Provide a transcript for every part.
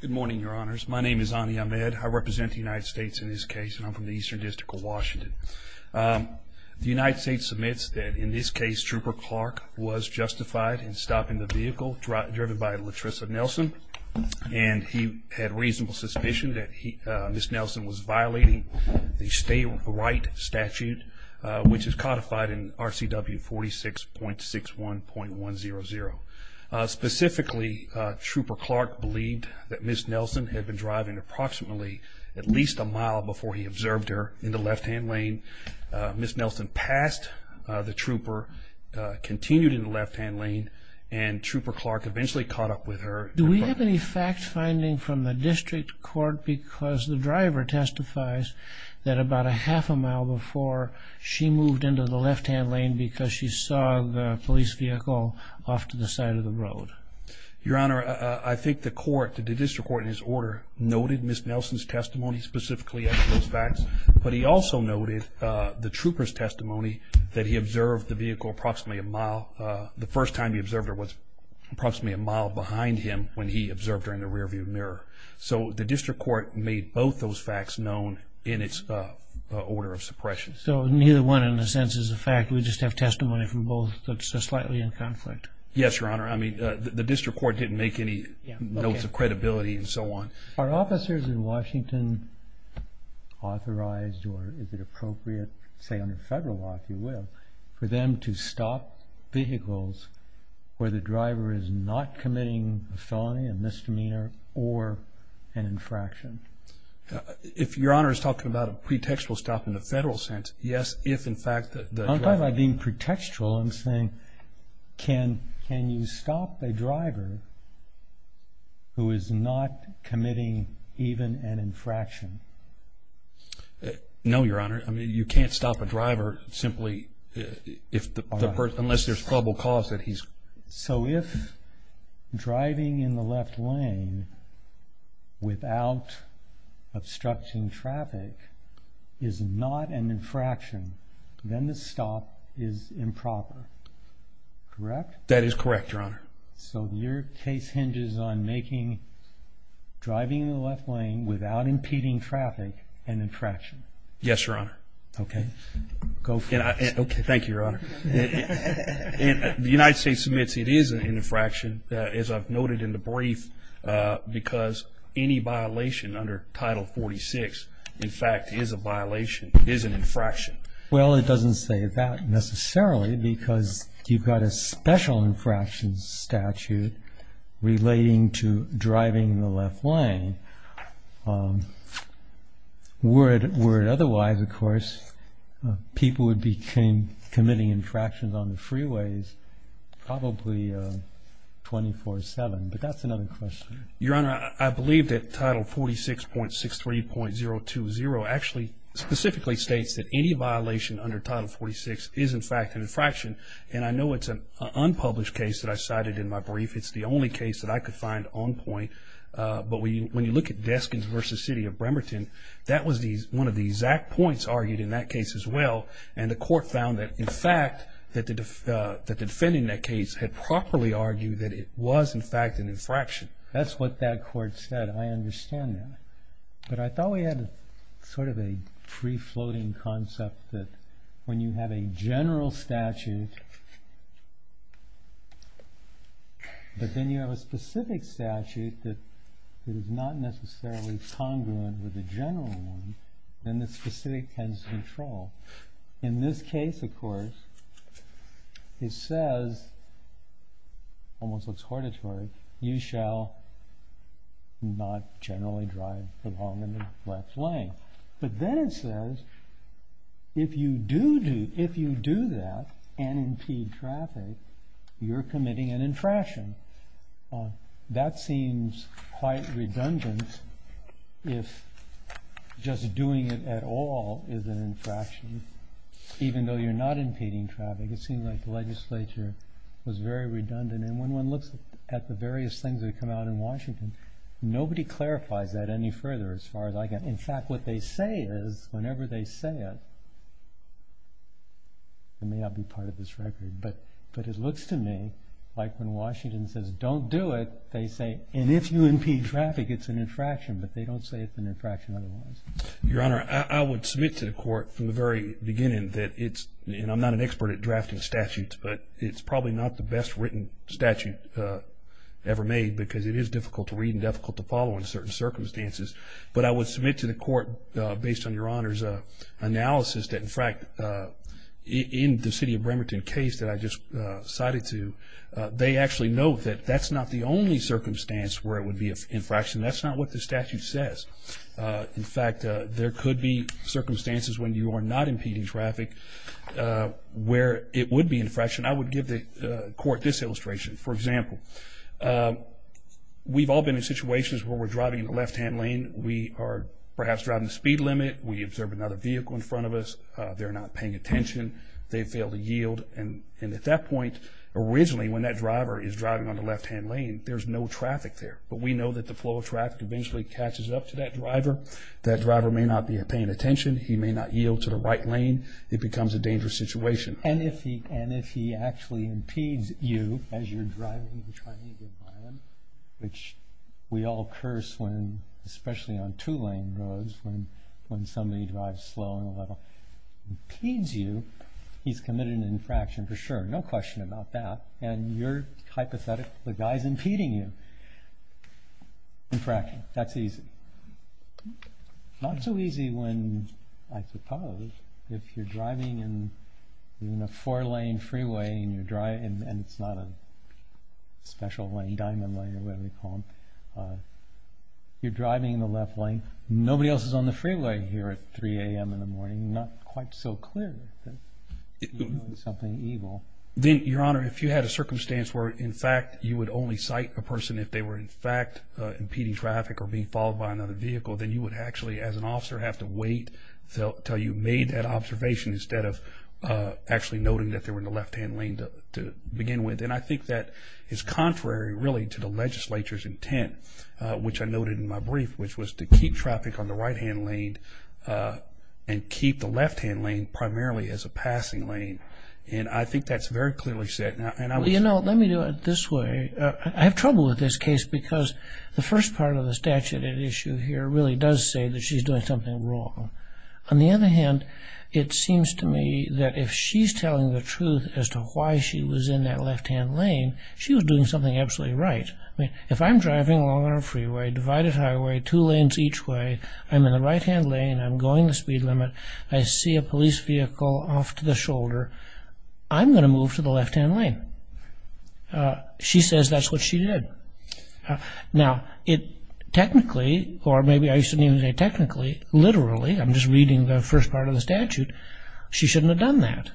Good morning your honors. My name is Ani Ahmed. I represent the United States in this case and I'm from the Eastern District of Washington. The United States submits that in this case Trooper Clark was justified in stopping the vehicle driven by Latrissa Nelson and he had reasonable suspicion that he, Ms. Nelson, was violating the state right statute which is codified in RCW 46.61.100. Specifically, Trooper Clark believed that Ms. Nelson had been driving approximately at least a mile before he observed her in the left-hand lane. Ms. Nelson passed the trooper, continued in the left-hand lane, and Trooper Clark eventually caught up with her. Do we have any fact-finding from the district court because the driver testifies that about a half a mile before she moved into the left-hand lane because she saw the police vehicle off to the side of the road? Your honor, I think the court, the district court, in his order noted Ms. Nelson's testimony specifically as those facts but he also noted the trooper's testimony that he observed the vehicle approximately a mile the first time he observed her was approximately a mile behind him when he observed her in the rearview mirror. So the district court made both those facts known in its order of suppression. So neither one in a sense is a fact, we just have testimony from both that's just slightly in conflict? Yes, your honor. I mean the district court didn't make any notes of credibility and so on. Are officers in Washington authorized or is it appropriate, say under federal law if you will, for them to stop vehicles where the driver is not committing a felony, a misdemeanor, or an infraction? If your honor is talking about a pretextual stop in the federal sense, yes if in fact... I'm not talking about being pretextual, I'm saying can can you stop a driver who is not committing even an infraction? No, your honor. I mean you can't stop a driver simply if the person, unless there's probable cause that he's... So if driving in the left lane without obstruction traffic is not an infraction, then the stop is improper, correct? That is correct, your honor. So your case hinges on making driving in the left lane without impeding traffic an infraction? Yes, your honor. Okay, go for it. Okay, thank you, your honor. The United States submits it is an infraction, as I've noted in the fact is a violation, is an infraction. Well it doesn't say that necessarily because you've got a special infractions statute relating to driving in the left lane. Were it otherwise, of course, people would be committing infractions on the freeways probably 24-7, but that's another question. Your 020 actually specifically states that any violation under Title 46 is in fact an infraction, and I know it's an unpublished case that I cited in my brief. It's the only case that I could find on point, but when you look at Deskins v. City of Bremerton, that was one of the exact points argued in that case as well, and the court found that in fact that the defending that case had properly argued that it was in fact an infraction. That's what that court said. I understand that, but I thought we had sort of a pre-floating concept that when you have a general statute, but then you have a specific statute that is not necessarily congruent with the general one, then the specific has control. In this case, of course, it says, almost looks not generally drive along in the left lane, but then it says, if you do do if you do that and impede traffic, you're committing an infraction. That seems quite redundant if just doing it at all is an infraction, even though you're not impeding traffic. It seems like the legislature was very redundant, and when one looks at the various things that come out in Washington, nobody clarifies that any further as far as I can. In fact, what they say is, whenever they say it, it may not be part of this record, but it looks to me like when Washington says, don't do it, they say, and if you impede traffic, it's an infraction, but they don't say it's an infraction otherwise. Your Honor, I would submit to the court from the very beginning that it's, and I'm not an expert at drafting statutes, but it's probably not the best written statute ever made because it is difficult to read and difficult to follow in certain circumstances, but I would submit to the court based on Your Honor's analysis that, in fact, in the city of Bremerton case that I just cited to, they actually know that that's not the only circumstance where it would be an infraction. That's not what the statute says. In fact, there could be circumstances when you are not impeding traffic where it would be an infraction. I would give the court this illustration. For example, we've all been in situations where we're driving in the left-hand lane. We are perhaps driving the speed limit. We observe another vehicle in front of us. They're not paying attention. They failed to yield, and at that point, originally, when that driver is driving on the left-hand lane, there's no traffic there, but we know that the flow of traffic eventually catches up to that driver. That driver may not be paying attention. He may not yield to the right lane. It becomes a dangerous situation. And if he actually impedes you as you're driving, which we all curse when, especially on two-lane roads, when somebody drives slow and impedes you, he's committed an infraction for sure. No question about that, and you're driving, I suppose, if you're driving in a four-lane freeway, and it's not a special lane, diamond lane, or whatever you call them, you're driving in the left lane. Nobody else is on the freeway here at 3 a.m. in the morning. Not quite so clear that you're doing something evil. Then, Your Honor, if you had a circumstance where, in fact, you would only cite a person if they were, in fact, impeding traffic or being followed by another vehicle, then you would actually, as an officer, have to wait until you made that observation instead of actually noting that they were in the left-hand lane to begin with. And I think that is contrary, really, to the legislature's intent, which I noted in my brief, which was to keep traffic on the right-hand lane and keep the left-hand lane primarily as a passing lane. And I think that's very clearly said. You know, let me do it this way. I have trouble with this case because the first part of the statute at issue here really does say that she's doing something wrong. On the other hand, it seems to me that if she's telling the truth as to why she was in that left-hand lane, she was doing something absolutely right. I mean, if I'm driving along on a freeway, divided highway, two lanes each way, I'm in the right-hand lane, I'm going the speed limit, I see a police vehicle off to the Now, technically, or maybe I shouldn't even say technically, literally, I'm just reading the first part of the statute, she shouldn't have done that.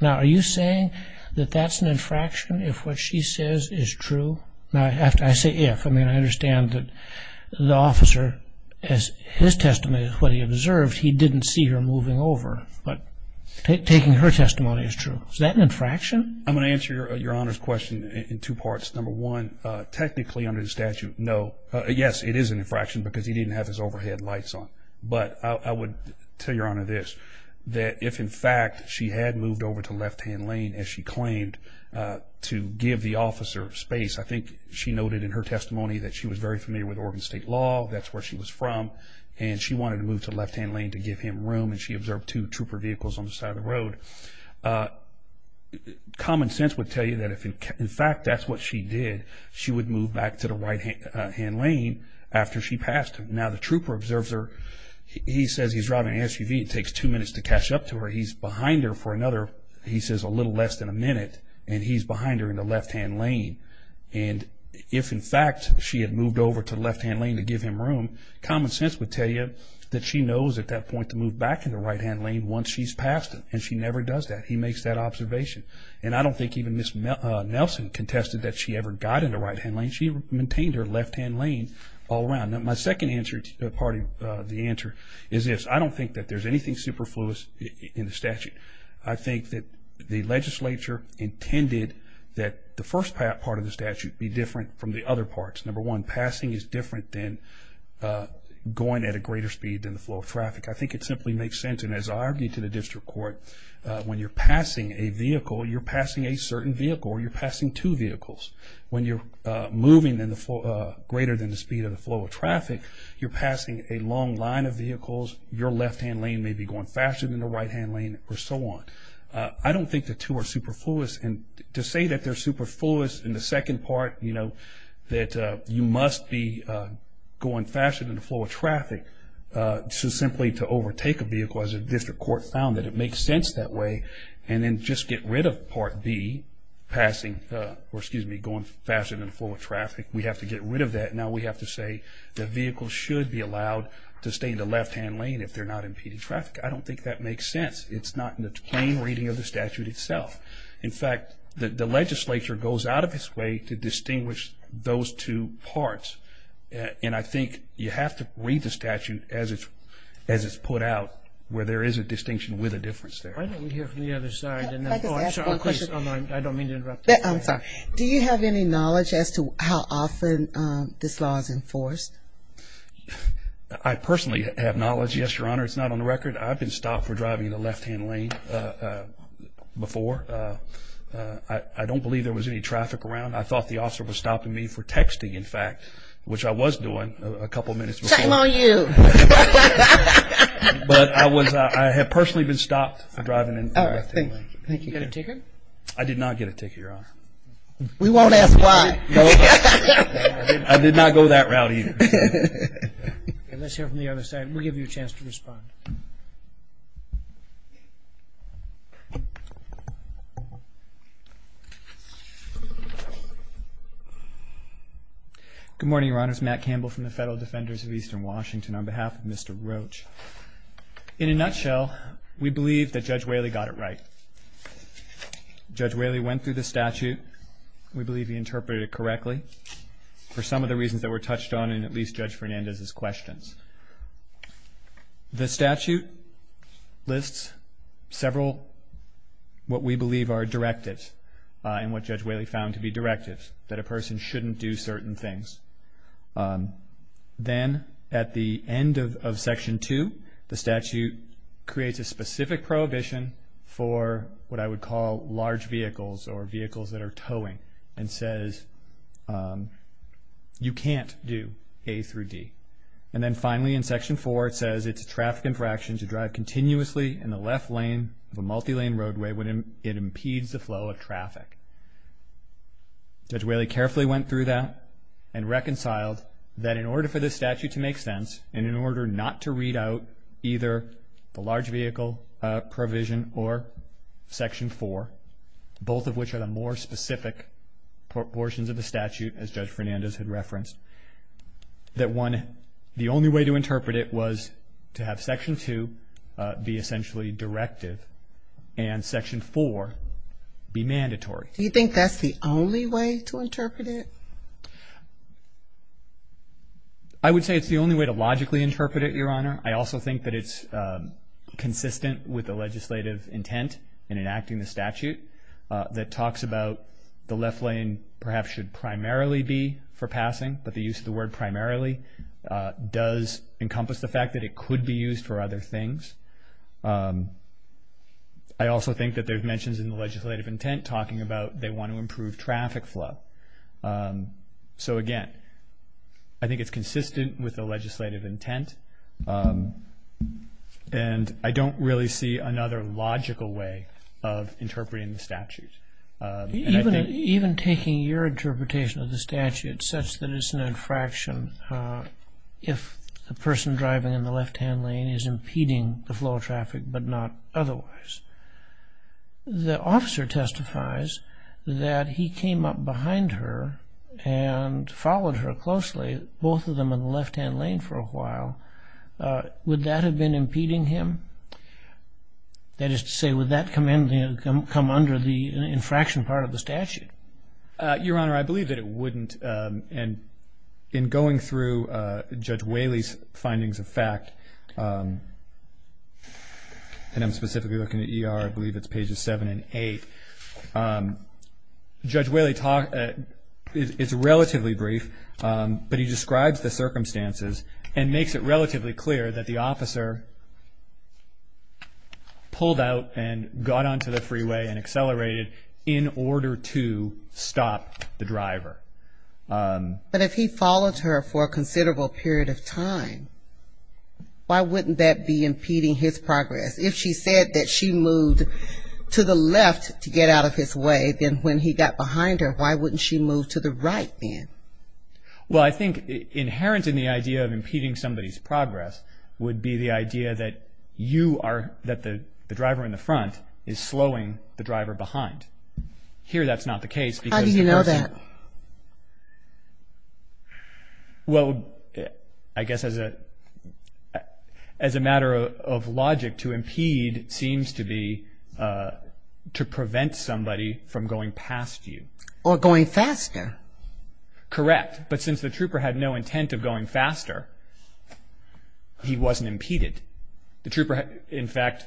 Now, are you saying that that's an infraction if what she says is true? Now, I say if. I mean, I understand that the officer, as his testimony is what he observed, he didn't see her moving over. But taking her testimony is true. Is that an infraction? I'm going to answer your Honor's question in two parts. Number one, technically under the statute, no. Yes, it is an infraction because he didn't have his overhead lights on. But I would tell your Honor this, that if in fact she had moved over to left-hand lane as she claimed to give the officer space, I think she noted in her testimony that she was very familiar with Oregon State law, that's where she was from, and she wanted to move to left-hand lane to give him room and she observed two trooper vehicles on the side of the road. Common sense would tell you that if in fact that's what she did, she would move back to the right-hand lane after she passed him. Now, the trooper observes her. He says he's driving an SUV. It takes two minutes to catch up to her. He's behind her for another, he says, a little less than a minute, and he's behind her in the left-hand lane. And if in fact she had moved over to left-hand lane to give him room, common sense would tell you that she knows at that point to move back in the right-hand lane once she's passed him, and she never does that. He makes that observation. And I don't think even Ms. Nelson contested that she ever got in the right-hand lane. She maintained her left-hand lane all around. Now, my second part of the answer is this. I don't think that there's anything superfluous in the statute. I think that the legislature intended that the first part of the statute be different from the other parts. Number one, passing is different than going at a greater speed than the flow of traffic. I think it simply makes sense, and as I argued to the district court, when you're passing a vehicle, you're passing a certain vehicle or you're passing two vehicles. When you're moving greater than the speed of the flow of traffic, you're passing a long line of vehicles, your left-hand lane may be going faster than the right-hand lane, or so on. I don't think the two are superfluous. And to say that they're superfluous in the second part, you know, that you must be going faster than the flow of traffic, so simply to overtake a vehicle, as the district court found that it makes sense that way, and then just get rid of Part B, passing, or excuse me, getting rid of Part B. Going faster than the flow of traffic, we have to get rid of that. Now we have to say the vehicle should be allowed to stay in the left-hand lane if they're not impeding traffic. I don't think that makes sense. It's not in the plain reading of the statute itself. In fact, the legislature goes out of its way to distinguish those two parts, and I think you have to read the statute as it's put out where there is a distinction with a difference there. Do you have any knowledge as to how often this law is enforced? I personally have knowledge, yes, Your Honor. It's not on the record. I've been stopped for driving in the left-hand lane before. I don't believe there was any traffic around. I thought the officer was stopping me for texting, in fact, which I was doing a couple minutes before. Shame on you. But I have personally been stopped for driving in the left-hand lane. Did you get a ticket? I did not get a ticket, Your Honor. We won't ask why. I did not go that route either. Let's hear from the other side. We'll give you a chance to respond. Good morning, Your Honors. Matt Campbell from the Federal Defenders of Eastern Washington on behalf of Mr. Roach. In a nutshell, we believe that Judge Whaley got it right. Judge Whaley went through the statute. We believe he interpreted it correctly for some of the reasons that were touched on in at least Judge Fernandez's questions. The statute lists several what we believe are directives and what Judge Whaley found to be directives, that a person shouldn't do certain things. Then at the end of Section 2, the statute creates a specific prohibition for what I would call large vehicles or vehicles that are towing and says you can't do A through D. And then finally in Section 4, it says it's a traffic infraction to drive continuously in the left lane of a multi-lane roadway when it impedes the flow of traffic. Judge Whaley carefully went through that and reconciled that in order for this statute to make sense, and in order not to read out either the large vehicle provision or Section 4, both of which are the more specific portions of the statute as Judge Fernandez had referenced, that one, the only way to interpret it was to have Section 2 be essentially directive and Section 4 be mandatory. Do you think that's the only way to interpret it? I would say it's the only way to logically interpret it, Your Honor. I also think that it's consistent with the legislative intent in enacting the statute that talks about the left lane perhaps should primarily be for passing, but the use of the word primarily does encompass the fact that it could be used for other things. I also think that there's mentions in the legislative intent talking about they want to improve traffic flow. So, again, I think it's consistent with the legislative intent, and I don't really see another logical way of interpreting the statute. Even taking your interpretation of the statute such that it's an infraction if the person driving in the left-hand lane is impeding the flow of traffic but not otherwise, the officer testifies that he came up behind her and followed her closely, both of them in the left-hand lane for a while. Would that have been impeding him? That is to say, would that come under the infraction part of the statute? Your Honor, I believe that it wouldn't, and in going through Judge Whaley's findings of fact, and I'm specifically looking at ER, I believe it's pages 7 and 8, Judge Whaley is relatively brief, but he describes the circumstances and makes it relatively clear that the officer pulled out and got onto the freeway and accelerated in order to stop the driver. But if he followed her for a considerable period of time, why wouldn't that be impeding his progress? If she said that she moved to the left to get out of his way, then when he got behind her, why wouldn't she move to the right then? Well, I think inherent in the idea of impeding somebody's progress would be the idea that the driver in the front is slowing the driver behind. Here that's not the case. How do you know that? Well, I guess as a matter of logic, to impede seems to be to prevent somebody from going past you. Or going faster. Correct, but since the trooper had no intent of going faster, he wasn't impeded. The trooper, in fact,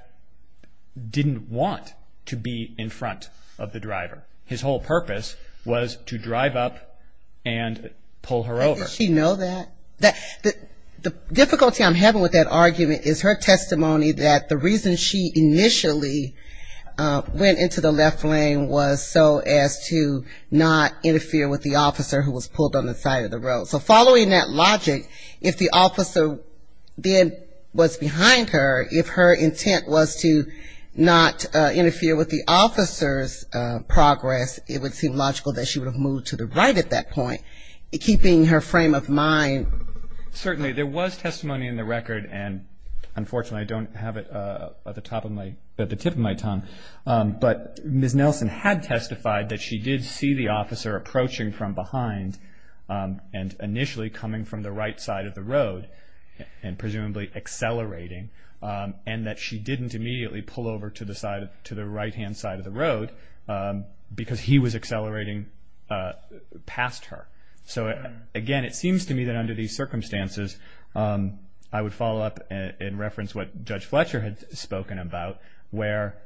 didn't want to be in front of the driver. His whole purpose was to drive up and pull her over. How did she know that? The difficulty I'm having with that argument is her testimony that the reason she initially went into the left lane was so as to not interfere with the officer who was pulled on the side of the road. So following that logic, if the officer then was behind her, if her intent was to not interfere with the officer's progress, it would seem logical that she would have moved to the right at that point, keeping her frame of mind. Certainly. There was testimony in the record, and unfortunately I don't have it at the tip of my tongue, but Ms. Nelson had testified that she did see the officer approaching from behind and initially coming from the right side of the road and presumably accelerating, and that she didn't immediately pull over to the right-hand side of the road because he was accelerating past her. So again, it seems to me that under these circumstances, I would follow up and reference what Judge Fletcher had spoken about, where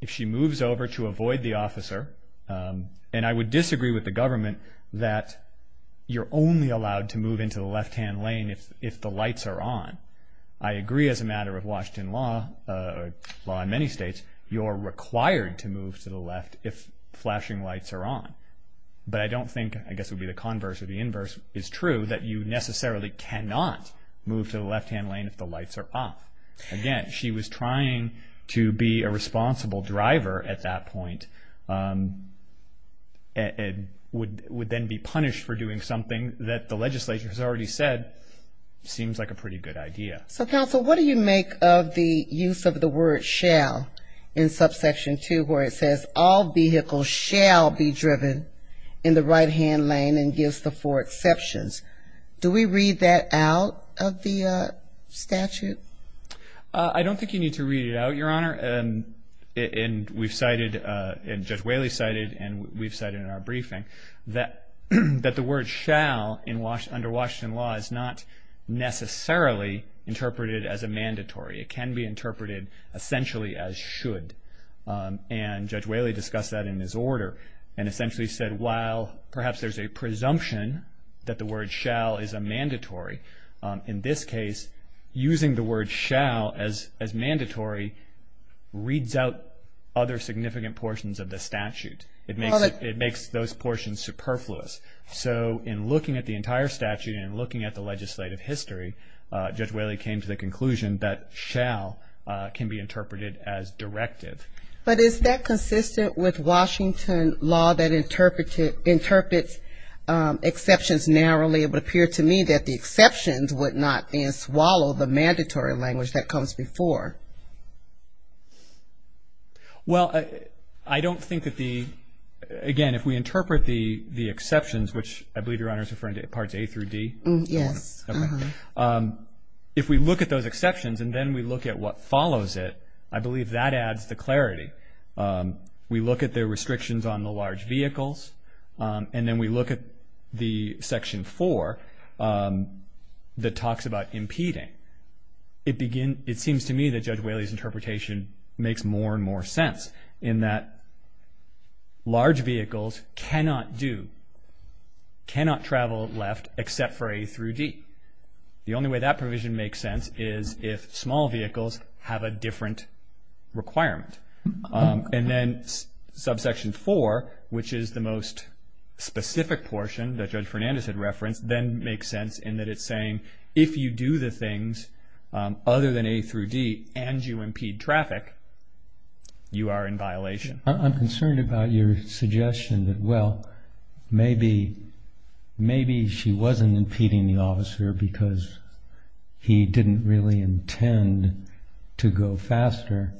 if she moves over to avoid the officer, and I would disagree with the government that you're only allowed to move into the left-hand lane if the lights are on. I agree as a matter of Washington law, or law in many states, you're required to move to the left if flashing lights are on. But I don't think, I guess it would be the converse or the inverse, is true that you necessarily cannot move to the left-hand lane if the lights are off. Again, she was trying to be a responsible driver at that point, and would then be punished for doing something that the legislature has already said seems like a pretty good idea. So, counsel, what do you make of the use of the word shall in subsection 2, where it says all vehicles shall be driven in the right-hand lane and gives the four exceptions? Do we read that out of the statute? I don't think you need to read it out, Your Honor. And we've cited, and Judge Whaley cited, and we've cited in our briefing, that the word shall under Washington law is not necessarily interpreted as a mandatory. It can be interpreted essentially as should, and Judge Whaley discussed that in his order and essentially said, well, perhaps there's a presumption that the word shall is a mandatory. In this case, using the word shall as mandatory reads out other significant portions of the statute. It makes those portions superfluous. So in looking at the entire statute and looking at the legislative history, Judge Whaley came to the conclusion that shall can be interpreted as directive. But is that consistent with Washington law that interprets exceptions narrowly? It would appear to me that the exceptions would not then swallow the mandatory language that comes before. Well, I don't think that the, again, if we interpret the exceptions, which I believe Your Honor is referring to parts A through D. Yes. If we look at those exceptions and then we look at what follows it, I believe that adds to clarity. We look at the restrictions on the large vehicles, and then we look at the Section 4 that talks about impeding. It seems to me that Judge Whaley's interpretation makes more and more sense in that large vehicles cannot do, cannot travel left except for A through D. The only way that provision makes sense is if small vehicles have a different requirement. And then Subsection 4, which is the most specific portion that Judge Fernandez had referenced, then makes sense in that it's saying if you do the things other than A through D and you impede traffic, you are in violation. I'm concerned about your suggestion that, well, maybe she wasn't impeding the officer because he didn't really intend to go faster.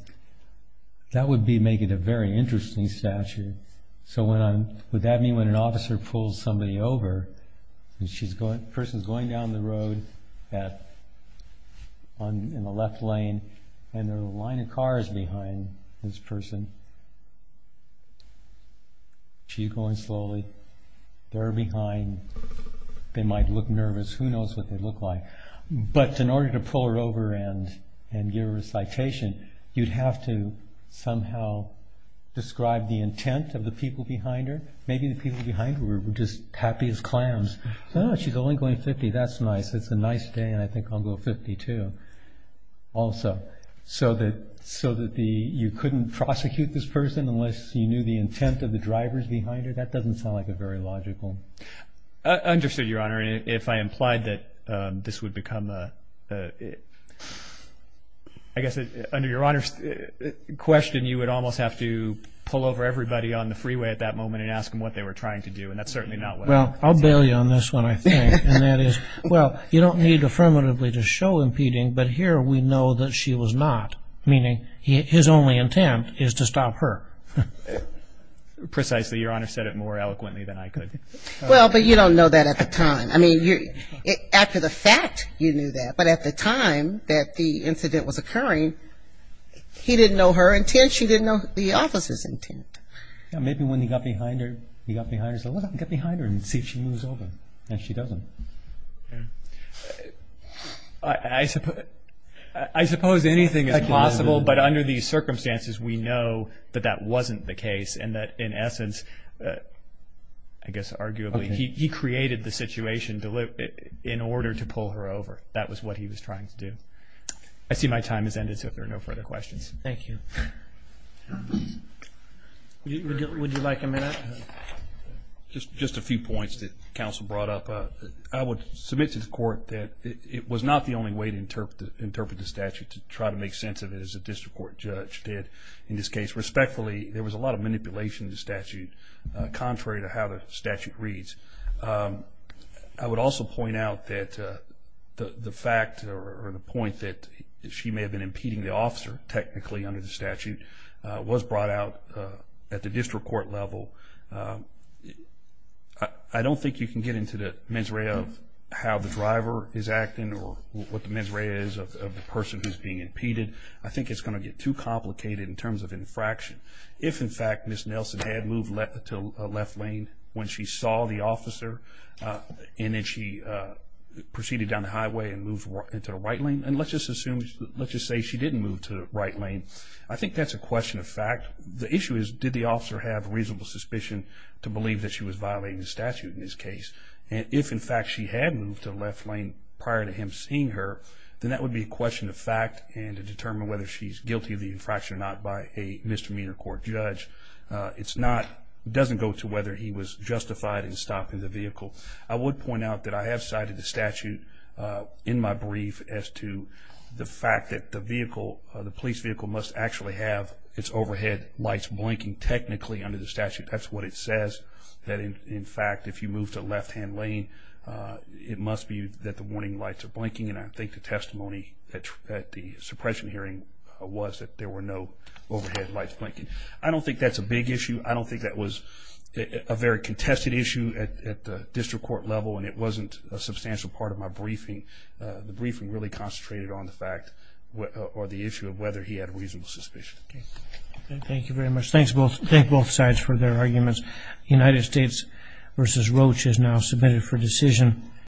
That would make it a very interesting statute. So would that mean when an officer pulls somebody over, and the person is going down the road in the left lane, and there are a line of cars behind this person. She's going slowly. They're behind. They might look nervous. Who knows what they look like? But in order to pull her over and give her a citation, you'd have to somehow describe the intent of the people behind her. Maybe the people behind her were just happy as clowns. Oh, she's only going 50. That's nice. It's a nice day, and I think I'll go 50 too. Also, so that you couldn't prosecute this person unless you knew the intent of the drivers behind her? That doesn't sound like a very logical. I understood, Your Honor. If I implied that this would become a, I guess, under Your Honor's question, then you would almost have to pull over everybody on the freeway at that moment and ask them what they were trying to do, and that's certainly not what happened. Well, I'll bail you on this one, I think. And that is, well, you don't need affirmatively to show impeding, but here we know that she was not, meaning his only intent is to stop her. Precisely. Your Honor said it more eloquently than I could. Well, but you don't know that at the time. I mean, after the fact, you knew that. But at the time that the incident was occurring, he didn't know her intent, she didn't know the officer's intent. Maybe when he got behind her, he got behind her and said, well, let me get behind her and see if she moves over, and she doesn't. I suppose anything is possible, but under these circumstances, we know that that wasn't the case and that, in essence, I guess arguably, he created the situation in order to pull her over. That was what he was trying to do. I see my time has ended, so if there are no further questions. Thank you. Would you like a minute? Just a few points that counsel brought up. I would submit to the court that it was not the only way to interpret the statute, to try to make sense of it as a district court judge did. In this case, respectfully, there was a lot of manipulation in the statute, contrary to how the statute reads. I would also point out that the fact or the point that she may have been impeding the officer, technically, under the statute, was brought out at the district court level. I don't think you can get into the misery of how the driver is acting or what the misery is of the person who's being impeded. I think it's going to get too complicated in terms of infraction. If, in fact, Ms. Nelson had moved to a left lane when she saw the officer and then she proceeded down the highway and moved into the right lane, and let's just assume, let's just say she didn't move to the right lane, I think that's a question of fact. The issue is, did the officer have reasonable suspicion to believe that she was violating the statute in this case? And if, in fact, she had moved to the left lane prior to him seeing her, then that would be a question of fact and to determine whether she's guilty of the infraction or not by a misdemeanor court judge. It doesn't go to whether he was justified in stopping the vehicle. I would point out that I have cited the statute in my brief as to the fact that the police vehicle must actually have its overhead lights blinking, technically, under the statute. That's what it says, that, in fact, if you move to left-hand lane, it must be that the warning lights are blinking. And I think the testimony at the suppression hearing was that there were no overhead lights blinking. I don't think that's a big issue. I don't think that was a very contested issue at the district court level, and it wasn't a substantial part of my briefing. The briefing really concentrated on the fact or the issue of whether he had reasonable suspicion. Thank you very much. Thanks to both sides for their arguments. United States v. Roche is now submitted for decision.